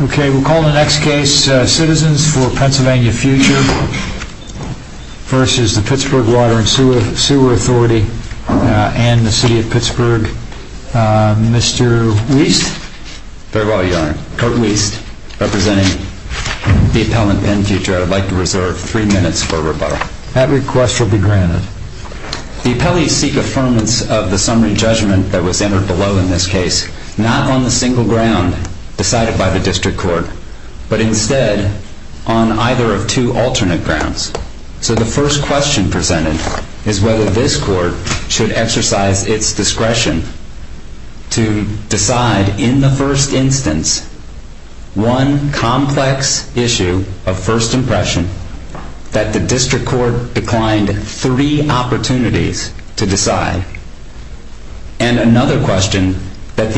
We call the next case Citizens for Pennsylvania Future v. Pittsburgh Water and Sewer Authority and the City of Pittsburgh. Mr. Weist? Very well, Your Honor. Kurt Weist, representing the appellant Penn Future. I would like to reserve three minutes for rebuttal. That request will be granted. The appellee seek affirmance of the summary judgment that was entered below in this case, not on the single ground decided by the District Court, but instead on either of two alternate grounds. So the first question presented is whether this Court should exercise its discretion to decide in the first instance one complex issue of first impression that the District Court should consider.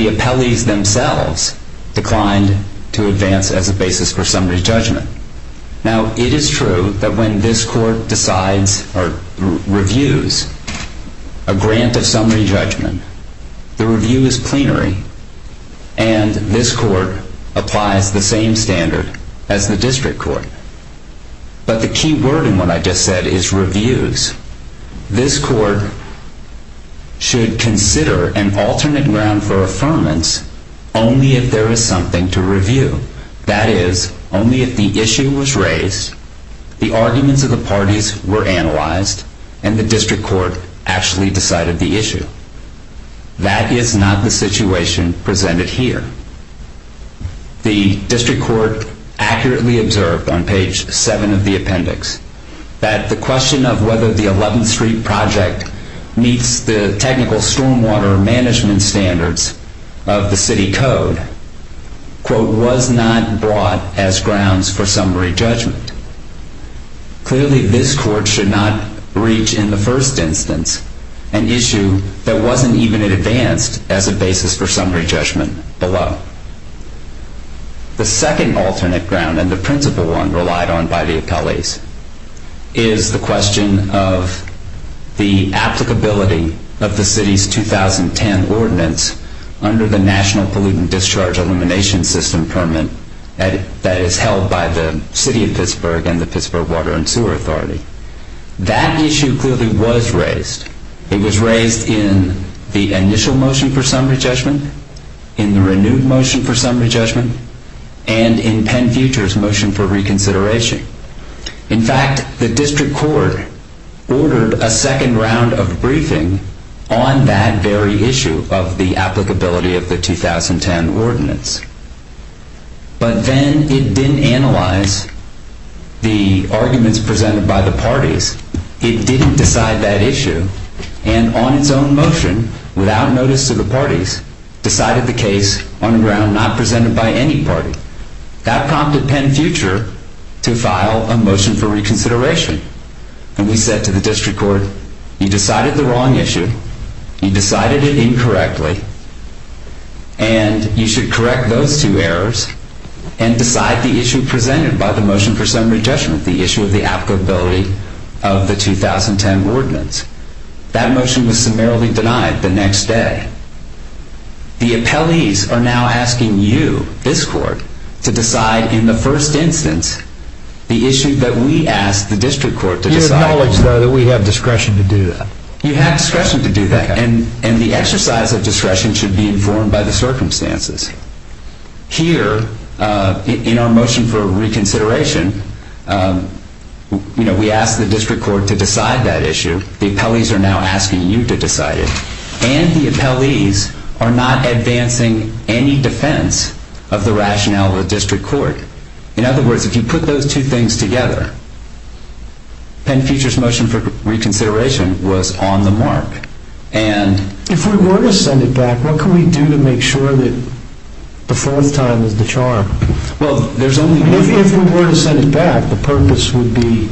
The appellees themselves declined to advance as a basis for summary judgment. Now, it is true that when this Court reviews a grant of summary judgment, the review is plenary and this Court applies the same standard as the District Court. But the key word in for affirmance only if there is something to review. That is, only if the issue was raised, the arguments of the parties were analyzed, and the District Court actually decided the issue. That is not the situation presented here. The District Court accurately observed on page 7 of the appendix that the question of whether the 11th Street project meets the technical stormwater management standards of the City Code, quote, was not brought as grounds for summary judgment. Clearly this Court should not reach in the first instance an issue that wasn't even advanced as a basis for summary judgment below. The second alternate ground, and the principal one relied on by the appellees, is the question of the applicability of the City's 2010 ordinance under the National Pollutant Discharge Elimination System permit that is held by the City of Pittsburgh and the Pittsburgh Water and Sewer Authority. That issue clearly was raised. It was raised in the initial motion for summary judgment, in the renewed motion for summary judgment, and in Penn Future's motion for reconsideration. In fact, the District Court ordered a second round of briefing on that very issue of the applicability of the 2010 ordinance. But then it didn't analyze the arguments presented by the parties, it didn't decide that issue, and on its own motion, without notice to the parties, decided the case on a ground not presented by any party. That prompted Penn Future to file a motion for reconsideration. And we said to the District Court, you decided the wrong issue, you decided it incorrectly, and you should correct those two errors and decide the issue presented by the motion for summary judgment, the issue of the applicability of the 2010 ordinance. That motion was summarily denied the next day. The appellees are now asking you, this Court, to decide in the first instance the issue that we asked the District Court to decide. You acknowledge, though, that we have discretion to do that? You have discretion to do that. And the exercise of discretion should be informed by the circumstances. Here, in our motion for reconsideration, we asked the District Court to decide that issue. The appellees are now asking you to decide it. And the appellees are not advancing any defense of the rationale of the District Court. In other words, if you put those two things together, Penn Future's motion for reconsideration was on the mark. If we were to send it back, what can we do to make sure that the fourth time is the charm? If we were to send it back, the purpose would be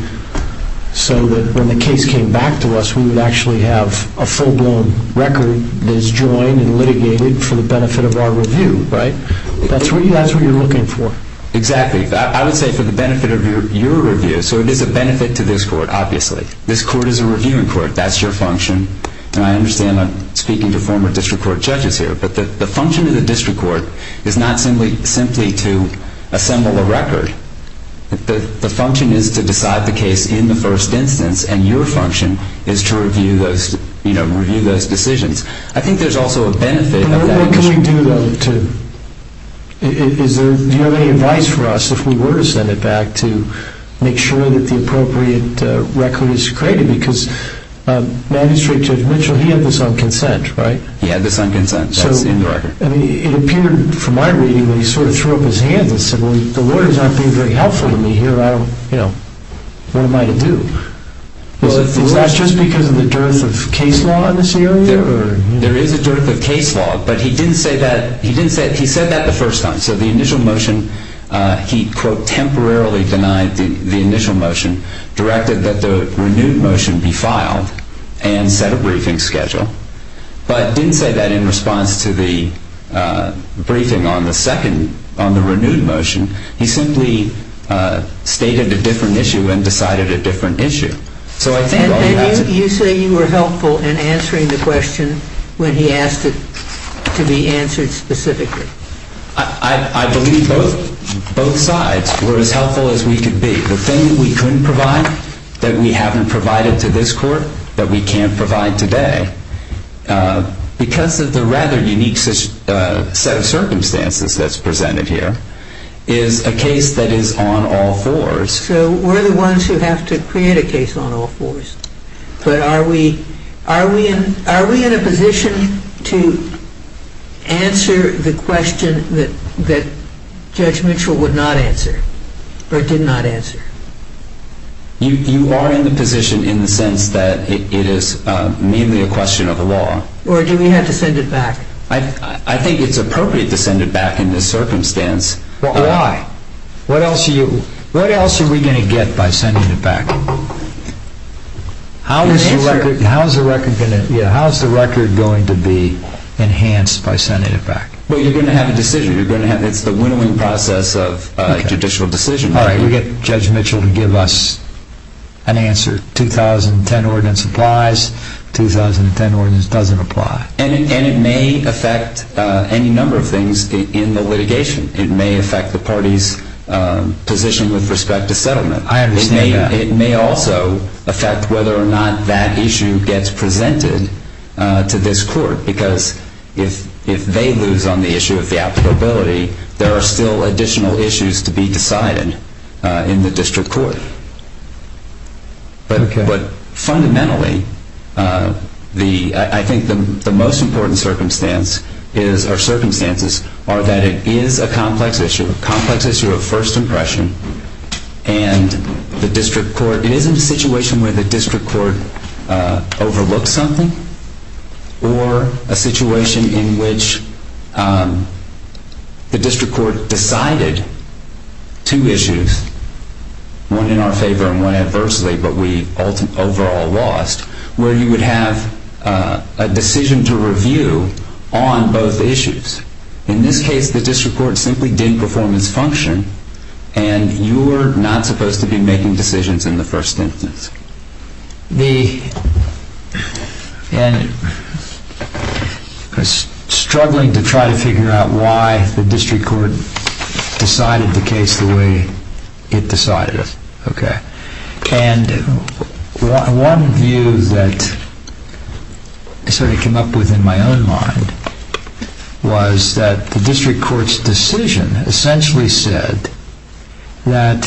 so that when the case came back to us, we would actually have a full-blown record that is joined and litigated for the benefit of our review, right? That's what you're looking for. Exactly. I would say for the benefit of your review. So it is a benefit to this Court, obviously. This Court is a reviewing Court. That's your function. And I understand I'm speaking to former District Court judges here. But the function of the District Court is not simply to assemble a record. The function is to decide the case in the first instance. And your function is to review those decisions. I think there's also a benefit of that. But what can we do, though? Do you have any advice for us, if we were to send it back, to make sure that the appropriate record is created? Because Magistrate Judge Mitchell, he had this on consent, right? It appeared from my reading that he sort of threw up his hands and said, well, the lawyers aren't being very helpful to me here. What am I to do? Is that just because of the dearth of case law in this area? There is a dearth of case law. But he didn't say that. He said that the first time. So the initial motion, he quote, temporarily denied the initial motion, directed that the renewed motion be filed and set a briefing schedule. But didn't say that in response to the briefing on the second, on the renewed motion. He simply stated a different issue and decided a different issue. And you say you were helpful in answering the question when he asked it to be answered specifically? I believe both sides were as helpful as we could be. The thing that we couldn't provide, that we haven't provided to this Court, that we can't provide today, because of the rather unique set of circumstances that's presented here, is a case that is on all fours. So we're the ones who have to create a case on all fours. But are we in a position to answer the question that Judge Mitchell would not answer? Or did not answer? You are in the position in the sense that it is merely a question of the law. Or do we have to send it back? I think it's appropriate to send it back in this circumstance. Why? What else are we going to get by sending it back? How is the record going to be enhanced by sending it back? Well, you're going to have a decision. It's the winnowing process of a judicial decision. All right, we'll get Judge Mitchell to give us an answer. 2010 ordinance applies. 2010 ordinance doesn't apply. And it may affect any number of things in the litigation. It may affect the party's position with respect to settlement. I understand that. It may also affect whether or not that issue gets presented to this Court. Because if they lose on the issue of the applicability, there are still additional issues to be decided in the District Court. But fundamentally, I think the most important circumstance or circumstances are that it is a complex issue, a complex issue of first impression, and it is in a situation where the District Court overlooks something or a situation in which the District Court decided two issues, one in our favor and one adversely, but we overall lost, where you would have a decision to review on both issues. In this case, the District Court simply did performance function and you're not supposed to be making decisions in the first instance. And I was struggling to try to figure out why the District Court decided the case the way it decided it. And one view that I sort of came up with in my own mind was that the District Court's decision essentially said that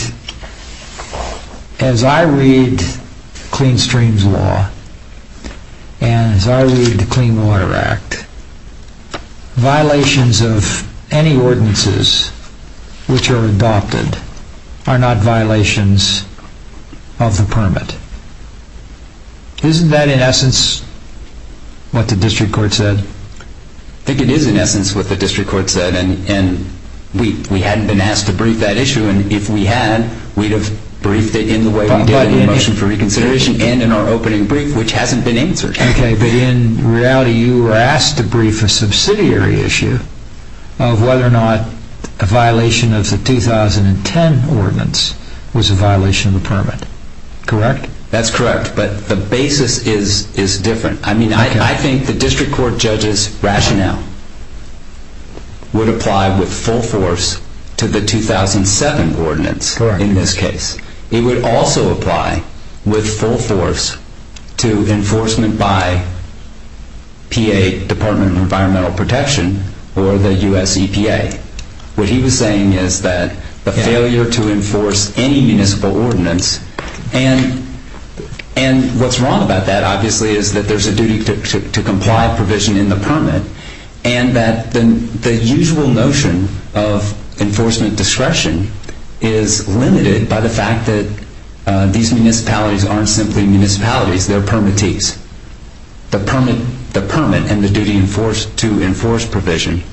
as I read Clean Streams Law and as I read the Clean Water Act, violations of any ordinances which are adopted are not violations of the permit. Isn't that in essence what the District Court said? I think it is in essence what the District Court said and we hadn't been asked to brief that issue and if we had, we would have briefed it in the way we did in the motion for reconsideration and in our opening brief, which hasn't been answered. Okay, but in reality you were asked to brief a subsidiary issue of whether or not a violation of the 2010 ordinance was a violation of the permit, correct? That's correct, but the basis is different. I think the District Court judge's rationale would apply with full force to the 2007 ordinance in this case. It would also apply with full force to enforcement by PA, Department of Environmental Protection, or the US EPA. What he was saying is that the failure to enforce any municipal ordinance, and what's wrong about that obviously is that there's a duty to comply with provision in the permit and that the usual notion of enforcement discretion is limited by the fact that these municipalities aren't simply municipalities, they're permittees. The permit and the duty to enforce provision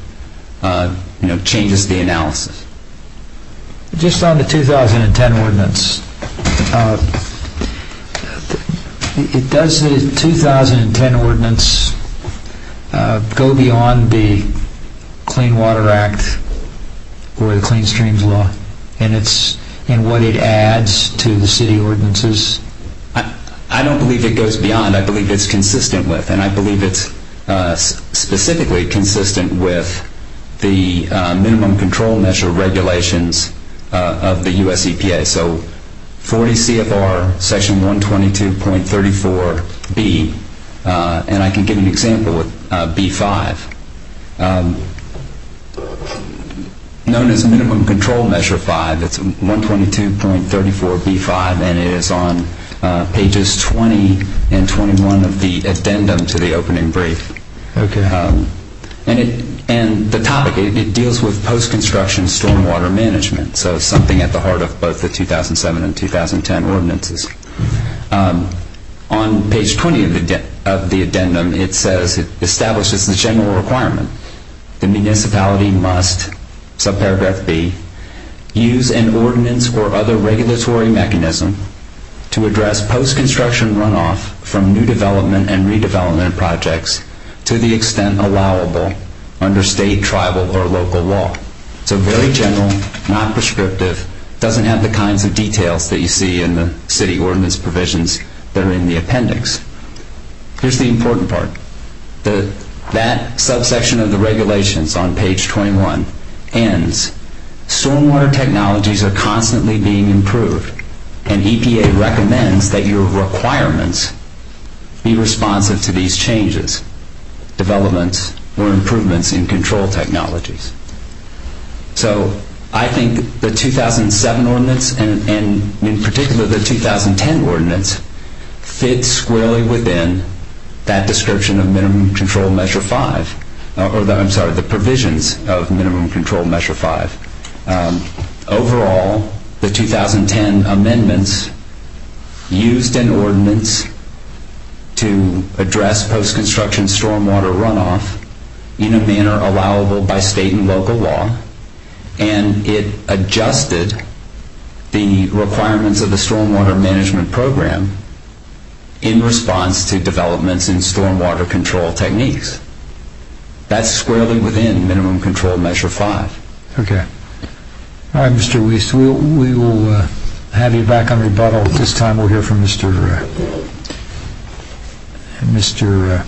changes the analysis. Just on the 2010 ordinance, does the 2010 ordinance go beyond the Clean Water Act or the Clean Streams Law in what it adds to the city ordinances? I don't believe it goes beyond, I believe it's consistent with, and I believe it's specifically consistent with the minimum control measure regulations of the US EPA. So 40 CFR, section 122.34B, and I can give you an example with B-5. Known as minimum control measure 5, it's 122.34B-5, and it is on pages 20 and 21 of the addendum to the opening brief. And the topic, it deals with So something at the heart of both the 2007 and 2010 ordinances. On page 20 of the addendum, it says it establishes the general requirement. The municipality must, subparagraph B, use an ordinance or other regulatory mechanism to address post-construction runoff from new development and redevelopment projects to the extent allowable under state, tribal, or local law. So very general, not prescriptive, doesn't have the kinds of details that you see in the city ordinance provisions that are in the appendix. Here's the important part. That subsection of the regulations on page 21 ends stormwater technologies are constantly being improved and EPA recommends that your requirements be responsive to these changes, developments, or improvements in control technologies. So I think the 2007 ordinance and, in particular, the 2010 ordinance fits squarely within that description of Minimum Control Measure 5 or, I'm sorry, the provisions of Minimum Control Measure 5. Overall, the 2010 amendments used an ordinance to address post-construction stormwater runoff in a manner allowable by state and local law and it adjusted the requirements of the stormwater management program in response to developments in stormwater control techniques. That's squarely within Minimum Control Measure 5. Okay. All right, Mr. Wiest, we will have you back on rebuttal. At this time, we'll hear from Mr. Mr.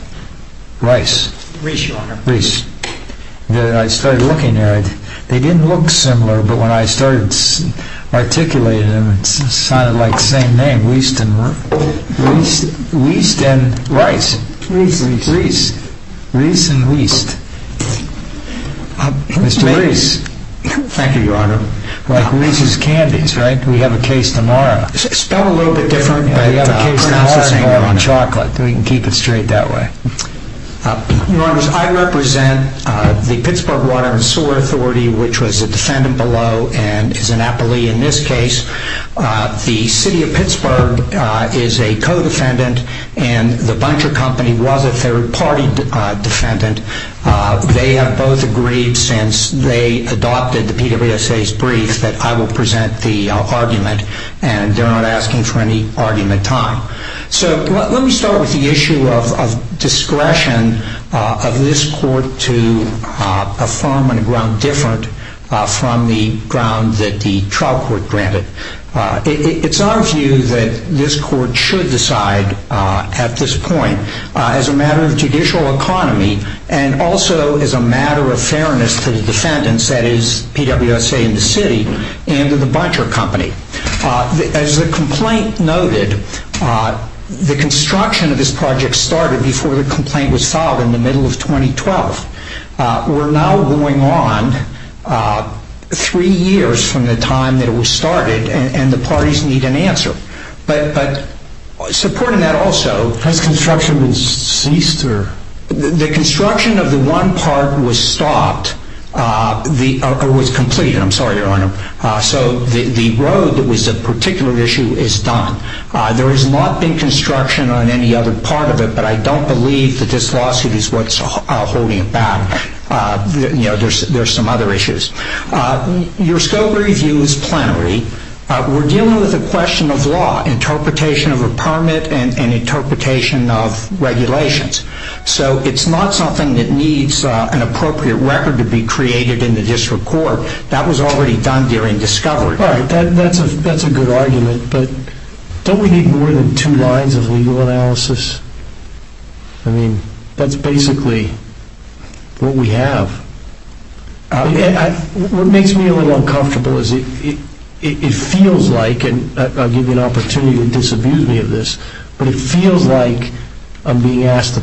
Rice. Reese, Your Honor. Reese. I started looking at it. They didn't look similar, but when I started articulating them, it sounded like the same name, Wiest and Rice. Reese. Reese. Reese and Wiest. Mr. Reese. Thank you, Your Honor. Like Reese's Candies, right? We have a case tomorrow. Spell a little bit different. We have a case tomorrow on chocolate. We can keep it straight that way. Your Honors, I represent the Pittsburgh Water and Sewer Authority, which was a defendant below and is an appellee in this case. The City of Pittsburgh is a co-defendant and the Buncher Company was a third-party defendant. They have both agreed since they adopted the PWSA's brief that I will present the argument and they're not asking for any argument time. So let me start with the issue of discretion of this court to affirm on a ground different from the ground that the trial court granted. It's our view that this court should decide at this point as a matter of judicial economy and also as a matter of fairness to the defendants, that is, PWSA and the City and to the Buncher Company. As the complaint noted, the construction of this project started before the complaint was filed in the middle of 2012. We're now going on three years from the time that it was started and the parties need an answer. But supporting that also... Has construction ceased? The construction of the one part was stopped or was completed. I'm sorry, Your Honor. So the road that was a particular issue is done. There has not been construction on any other part of it but I don't believe that this lawsuit is what's holding it back. There's some other issues. Your scope review is plenary. We're dealing with a question of law, interpretation of a permit and interpretation of regulations. So it's not something that needs an appropriate record to be created in the district court. That was already done during discovery. That's a good argument but don't we need more than two lines of legal analysis? I mean that's basically what we have. What makes me a little uncomfortable is it feels like, and I'll give you an opportunity to disabuse me of this, but it feels like I'm being asked to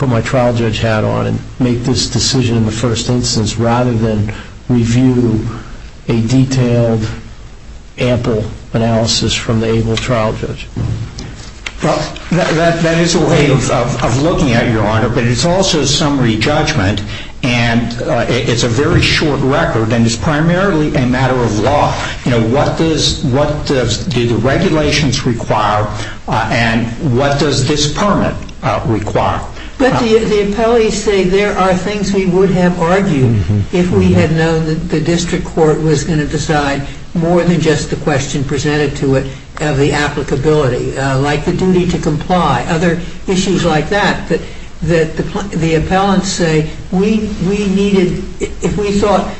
put my trial judge hat on and make this decision in the first instance rather than review a detailed ample analysis from the able trial judge. That is a way of looking at it, Your Honor but it's also summary judgment and it's a very short record and it's primarily a matter of law. What do the regulations require and what does this permit require? But the appellees say there are things we would have argued if we had known that the district court was going to decide more than just the question presented to it of the applicability. Like the duty to comply. Other issues like that that the appellants say if we thought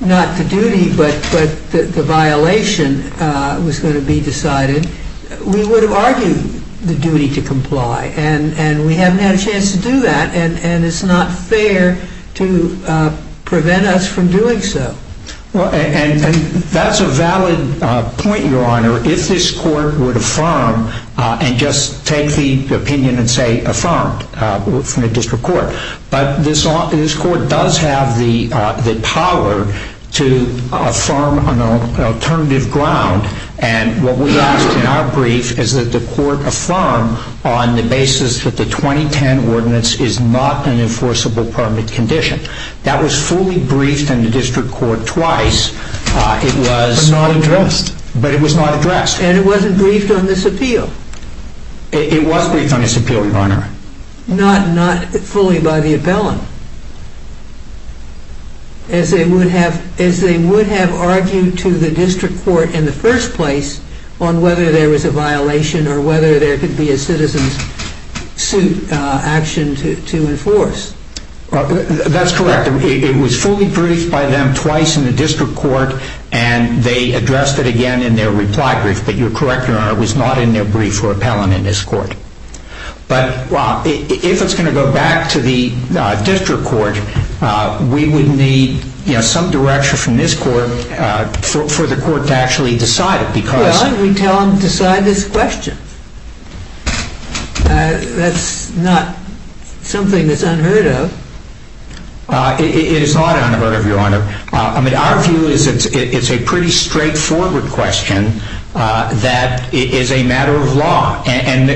but the violation was going to be decided we would have argued the duty to comply and we haven't had a chance to do that and it's not fair to prevent us from doing so. That's a valid point, Your Honor, if this court would affirm and just take the opinion and say affirmed from the district court. But this court does have the power to affirm an alternative ground and what we asked in our brief is that the court affirm on the basis that the 2010 ordinance is not an enforceable permit condition. That was fully briefed in the district court twice but not addressed. But it was not addressed. And it wasn't briefed on this appeal? It was briefed on this appeal, Your Honor. Not fully by the appellant as they would have argued to the district court in the first place on whether there was a violation or whether there could be a citizen suit action to enforce. That's correct. It was fully briefed by them twice in the district court and they addressed it again in their reply brief, but you're correct, Your Honor it was not in their brief for appellant in this court. But if it's going to go back to the district court we would need some direction from this court for the court to actually decide it. Well, we tell them to decide this question. That's not something that's unheard of. It is not unheard of, Your Honor. Our view is that it's a pretty straightforward question that is a matter of law and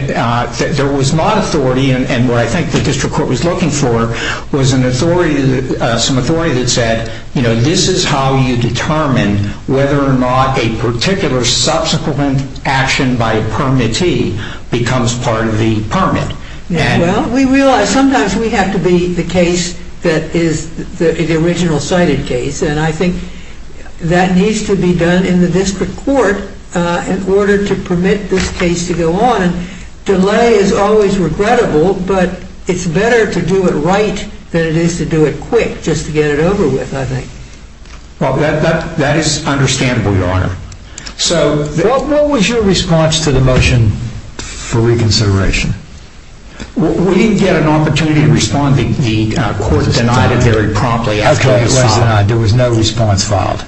there was not authority and what I think the district court was looking for was some authority that said this is how you determine whether or not a particular subsequent action by a permittee becomes part of the permit. We realize sometimes we have to be the case that is the original cited case and I think that needs to be done in the district court in order to permit this case to go on and delay is always regrettable, but it's better to do it right than it is to do it wrong. That is understandable, Your Honor. What was your response to the motion for reconsideration? We didn't get an opportunity to respond. The court denied it very promptly. There was no response filed.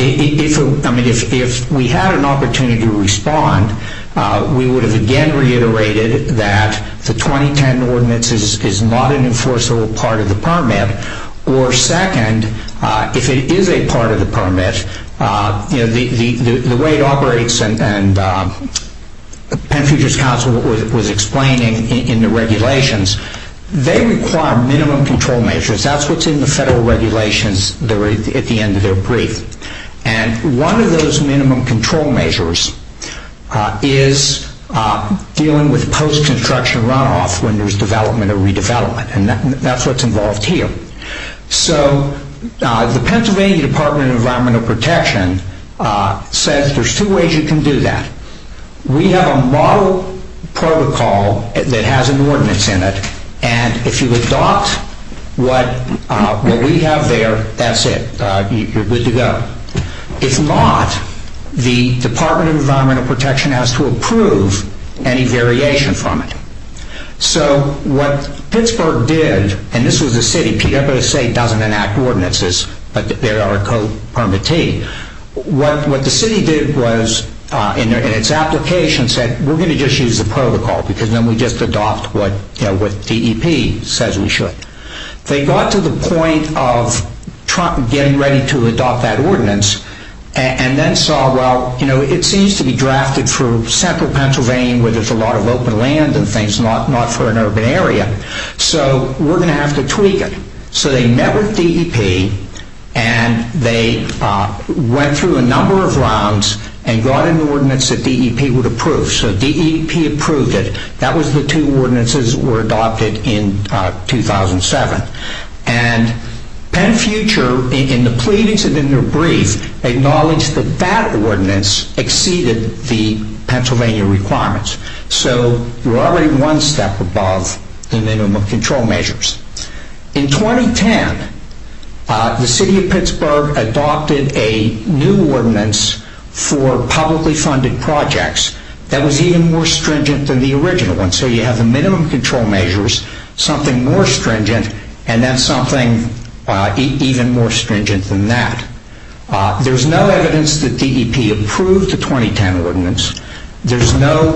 If we had an opportunity to respond we would have again reiterated that the 2010 ordinance is not an enforceable part of the permit or second if it is a part of the permit the way it operates and Penfuger's counsel was explaining in the regulations they require minimum control measures that's what's in the federal regulations at the end of their brief and one of those minimum control measures is dealing with post construction runoff when there's development or redevelopment and that's what's involved here so the Pennsylvania Department of Environmental Protection says there's two ways you can do that we have a model protocol that has an ordinance in it and if you adopt what we have there that's it, you're good to go if not the Department of Environmental Protection has to approve any so what Pittsburgh did and this was a city PFSA doesn't enact ordinances but they are a co-permittee what the city did was in its application said we're going to just use the protocol because then we just adopt what DEP says we should they got to the point of getting ready to adopt that ordinance and then saw it seems to be drafted for central Pennsylvania where there's a lot of open land not for an urban area so we're going to have to tweak it so they met with DEP and they went through a number of rounds and got an ordinance that DEP would approve so DEP approved it that was the two ordinances that were adopted in 2007 and PennFuture in the pleadings and in their brief acknowledged that that ordinance exceeded the Pennsylvania requirements so you're already one step above the minimum control measures in 2010 the city of Pittsburgh adopted a new ordinance for publicly funded projects that was even more stringent than the original one so you have the minimum control measures something more stringent and then something even more stringent than that there's no evidence that DEP approved the 2010 ordinance there's no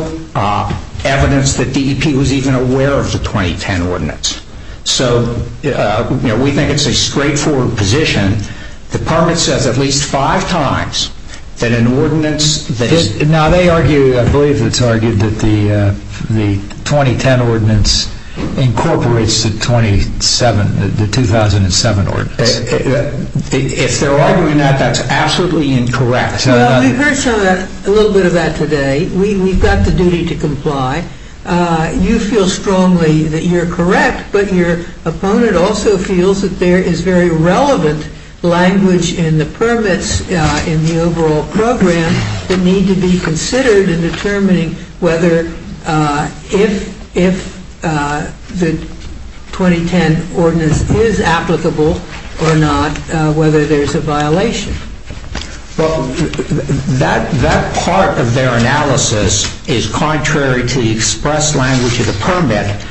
evidence that DEP was even aware of the 2010 ordinance so we think it's a straightforward position the permit says at least five times that an ordinance now they argue, I believe it's argued that the 2010 ordinance incorporates the 2007 ordinance if they're arguing that, that's absolutely incorrect we've heard a little bit of that today we've got the duty to comply you feel strongly that you're correct, but your opponent also feels that there is very relevant language in the permits in the overall program that need to be considered in determining whether if the 2010 ordinance is applicable or not whether there's a violation that part of their analysis is contrary to the express language of the permit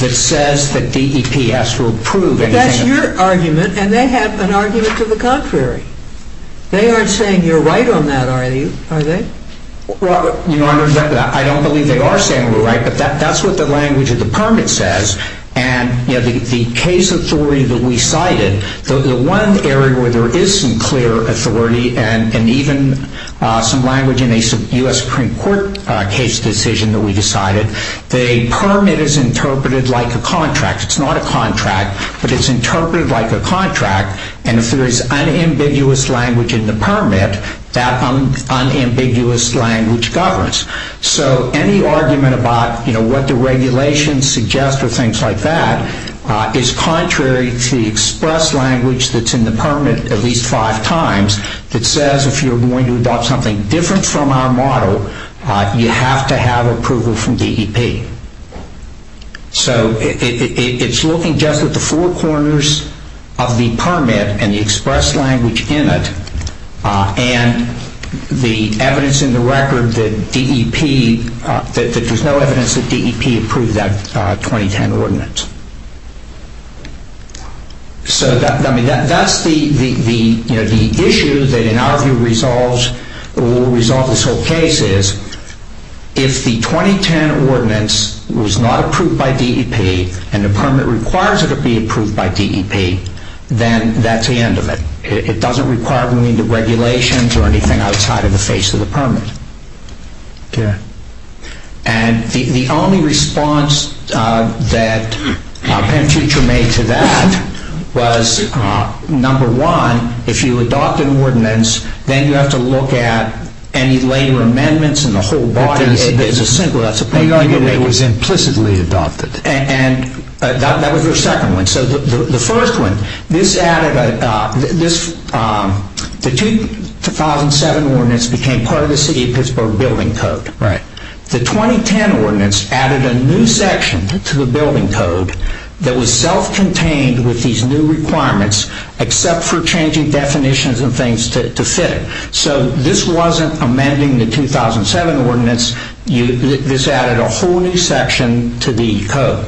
that says that DEP has to approve and they have an argument to the contrary they aren't saying you're right on that are they? I don't believe they are saying we're right, but that's what the language of the permit says and the case authority that we cited the one area where there is some clear authority and even some language in a US Supreme Court case decision that we decided the permit is interpreted like a contract, it's not a contract but it's interpreted like a contract and if there is unambiguous language in the permit that unambiguous language governs so any argument about what the regulations suggest or things like that is contrary to the express language that's in the permit at least five times that says if you're going to adopt something different from our model you have to have approval from DEP so it's looking just at the four corners of the permit and the express language in it and the evidence in the record that DEP there's no evidence that DEP approved that 2010 ordinance so that's the issue that in our view resolves or will resolve this whole case is if the 2010 ordinance was not approved by DEP and the permit requires it to be approved by DEP then that's the end of it it doesn't require we need the regulations or anything outside of the face of the permit yeah and the only response that Penn Future made to that was number one if you adopt an ordinance then you have to look at any later amendments in the whole body it was implicitly adopted and that was the second one so the first one this added the 2007 ordinance became part of the city of Pittsburgh building code the 2010 ordinance added a new section to the building code that was self contained with these new requirements except for changing definitions and things to fit it so this wasn't amending the 2007 ordinance this added a whole new section to the code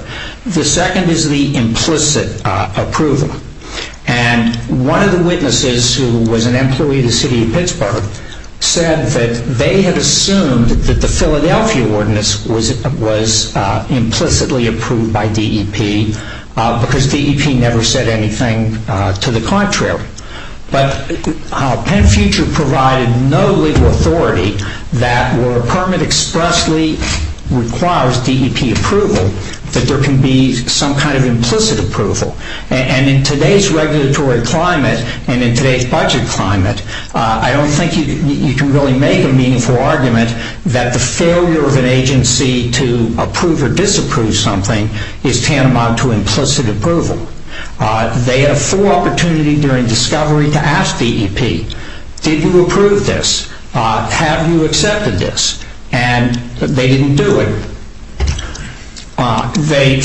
the second is the implicit approval and one of the witnesses who was an employee of the city of Pittsburgh said that they had assumed that the Philadelphia ordinance was implicitly approved by DEP because DEP never said anything to the contrary but Penn Future provided no legal authority that where a permit expressly requires DEP approval that there can be some kind of implicit approval and in today's regulatory climate and in today's budget climate I don't think you can really make a meaningful argument that the failure of an agency to approve or disapprove something is tantamount to implicit approval they had a full opportunity during discovery to ask DEP did you approve this have you accepted this and they didn't do it they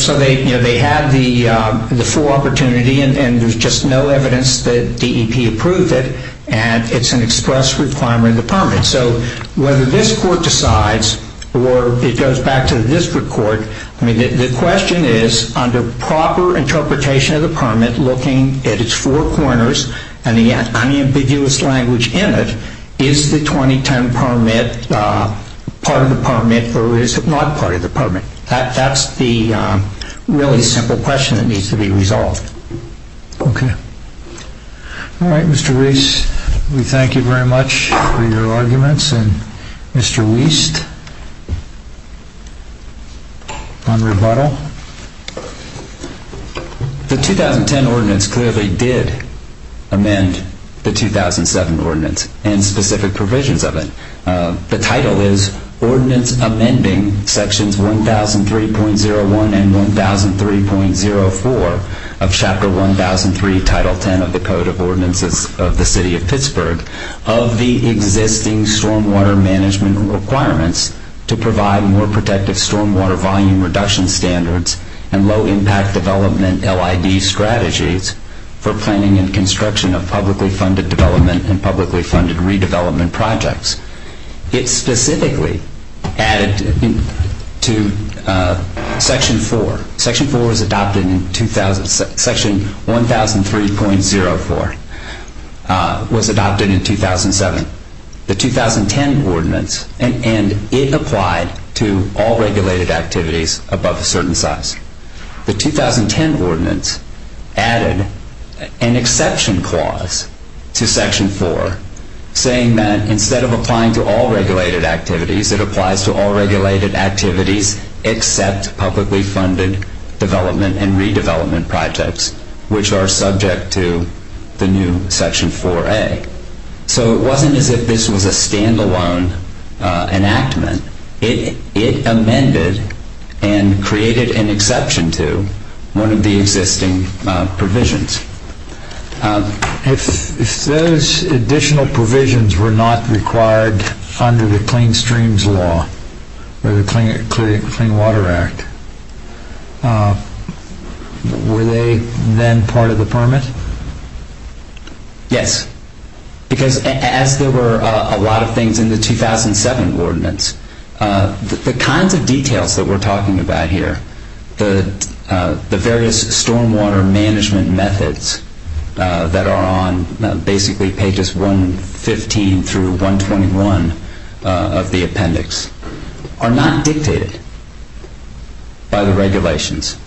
had the full opportunity and there's just no evidence that DEP approved it and it's an express requirement of the permit so whether this court decides or it goes back to the district court the question is under proper interpretation of the permit looking at its four corners and the unambiguous language in it is the 2010 permit part of the permit or is it not part of the permit that's the really simple question that needs to be resolved ok alright Mr. Reese we thank you very much for your arguments and Mr. Wiest on rebuttal the 2010 ordinance clearly did amend the 2007 ordinance and specific provisions of it the title is Ordinance Amending Sections 1003.01 and 1003.04 of Chapter 1003 Title 10 of the Code of Ordinances of the City of Pittsburgh of the existing stormwater management requirements to provide more protective stormwater volume reduction standards and low impact development LID strategies for planning and construction of publicly funded development and publicly funded redevelopment projects it specifically added to section 4 section 4 was adopted in 2000 section 1003.04 was adopted in 2007 the 2010 ordinance and it applied to all regulated activities above a certain size the 2010 ordinance added an exception clause to section 4 saying that instead of applying to all regulated activities it applies to all regulated activities except publicly funded development and redevelopment projects which are subject to the new section 4a so it wasn't as if this was a stand alone enactment it amended and created an exception to one of the existing provisions if those additional provisions were not required under the Clean Streams Law or the Clean Water Act were they then part of the permit? Yes because as there were a lot of things in the 2007 ordinance the kinds of details that we're talking about here the various stormwater management methods that are on basically pages 115 through 121 of the appendix are not dictated by the regulations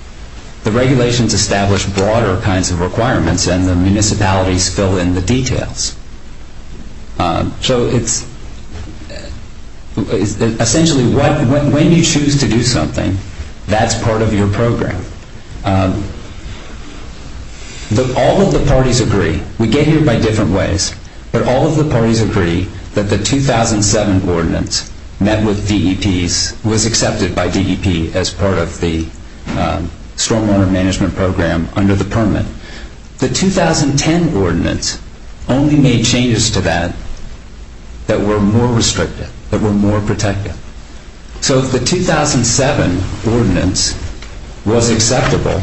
the regulations establish broader kinds of requirements and the municipalities fill in the details so it's essentially when you choose to do something that's part of your program all of the parties agree we get here by different ways but all of the parties agree that the 2007 ordinance was accepted by DEP as part of the stormwater management program under the permit the 2010 ordinance only made changes to that that were more restrictive, that were more protective so the 2007 ordinance was acceptable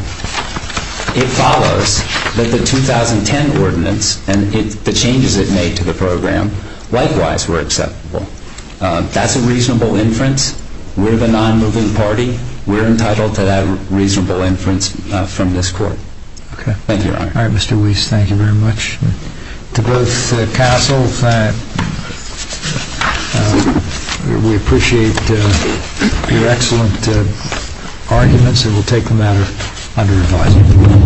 it follows that the 2010 ordinance and the changes it made to the program likewise were acceptable that's a reasonable inference we're the non-moving party we're entitled to that reasonable inference from this court thank you, your honor Mr. Weiss, thank you very much to both counsel we appreciate your excellent arguments and we'll take them out of under review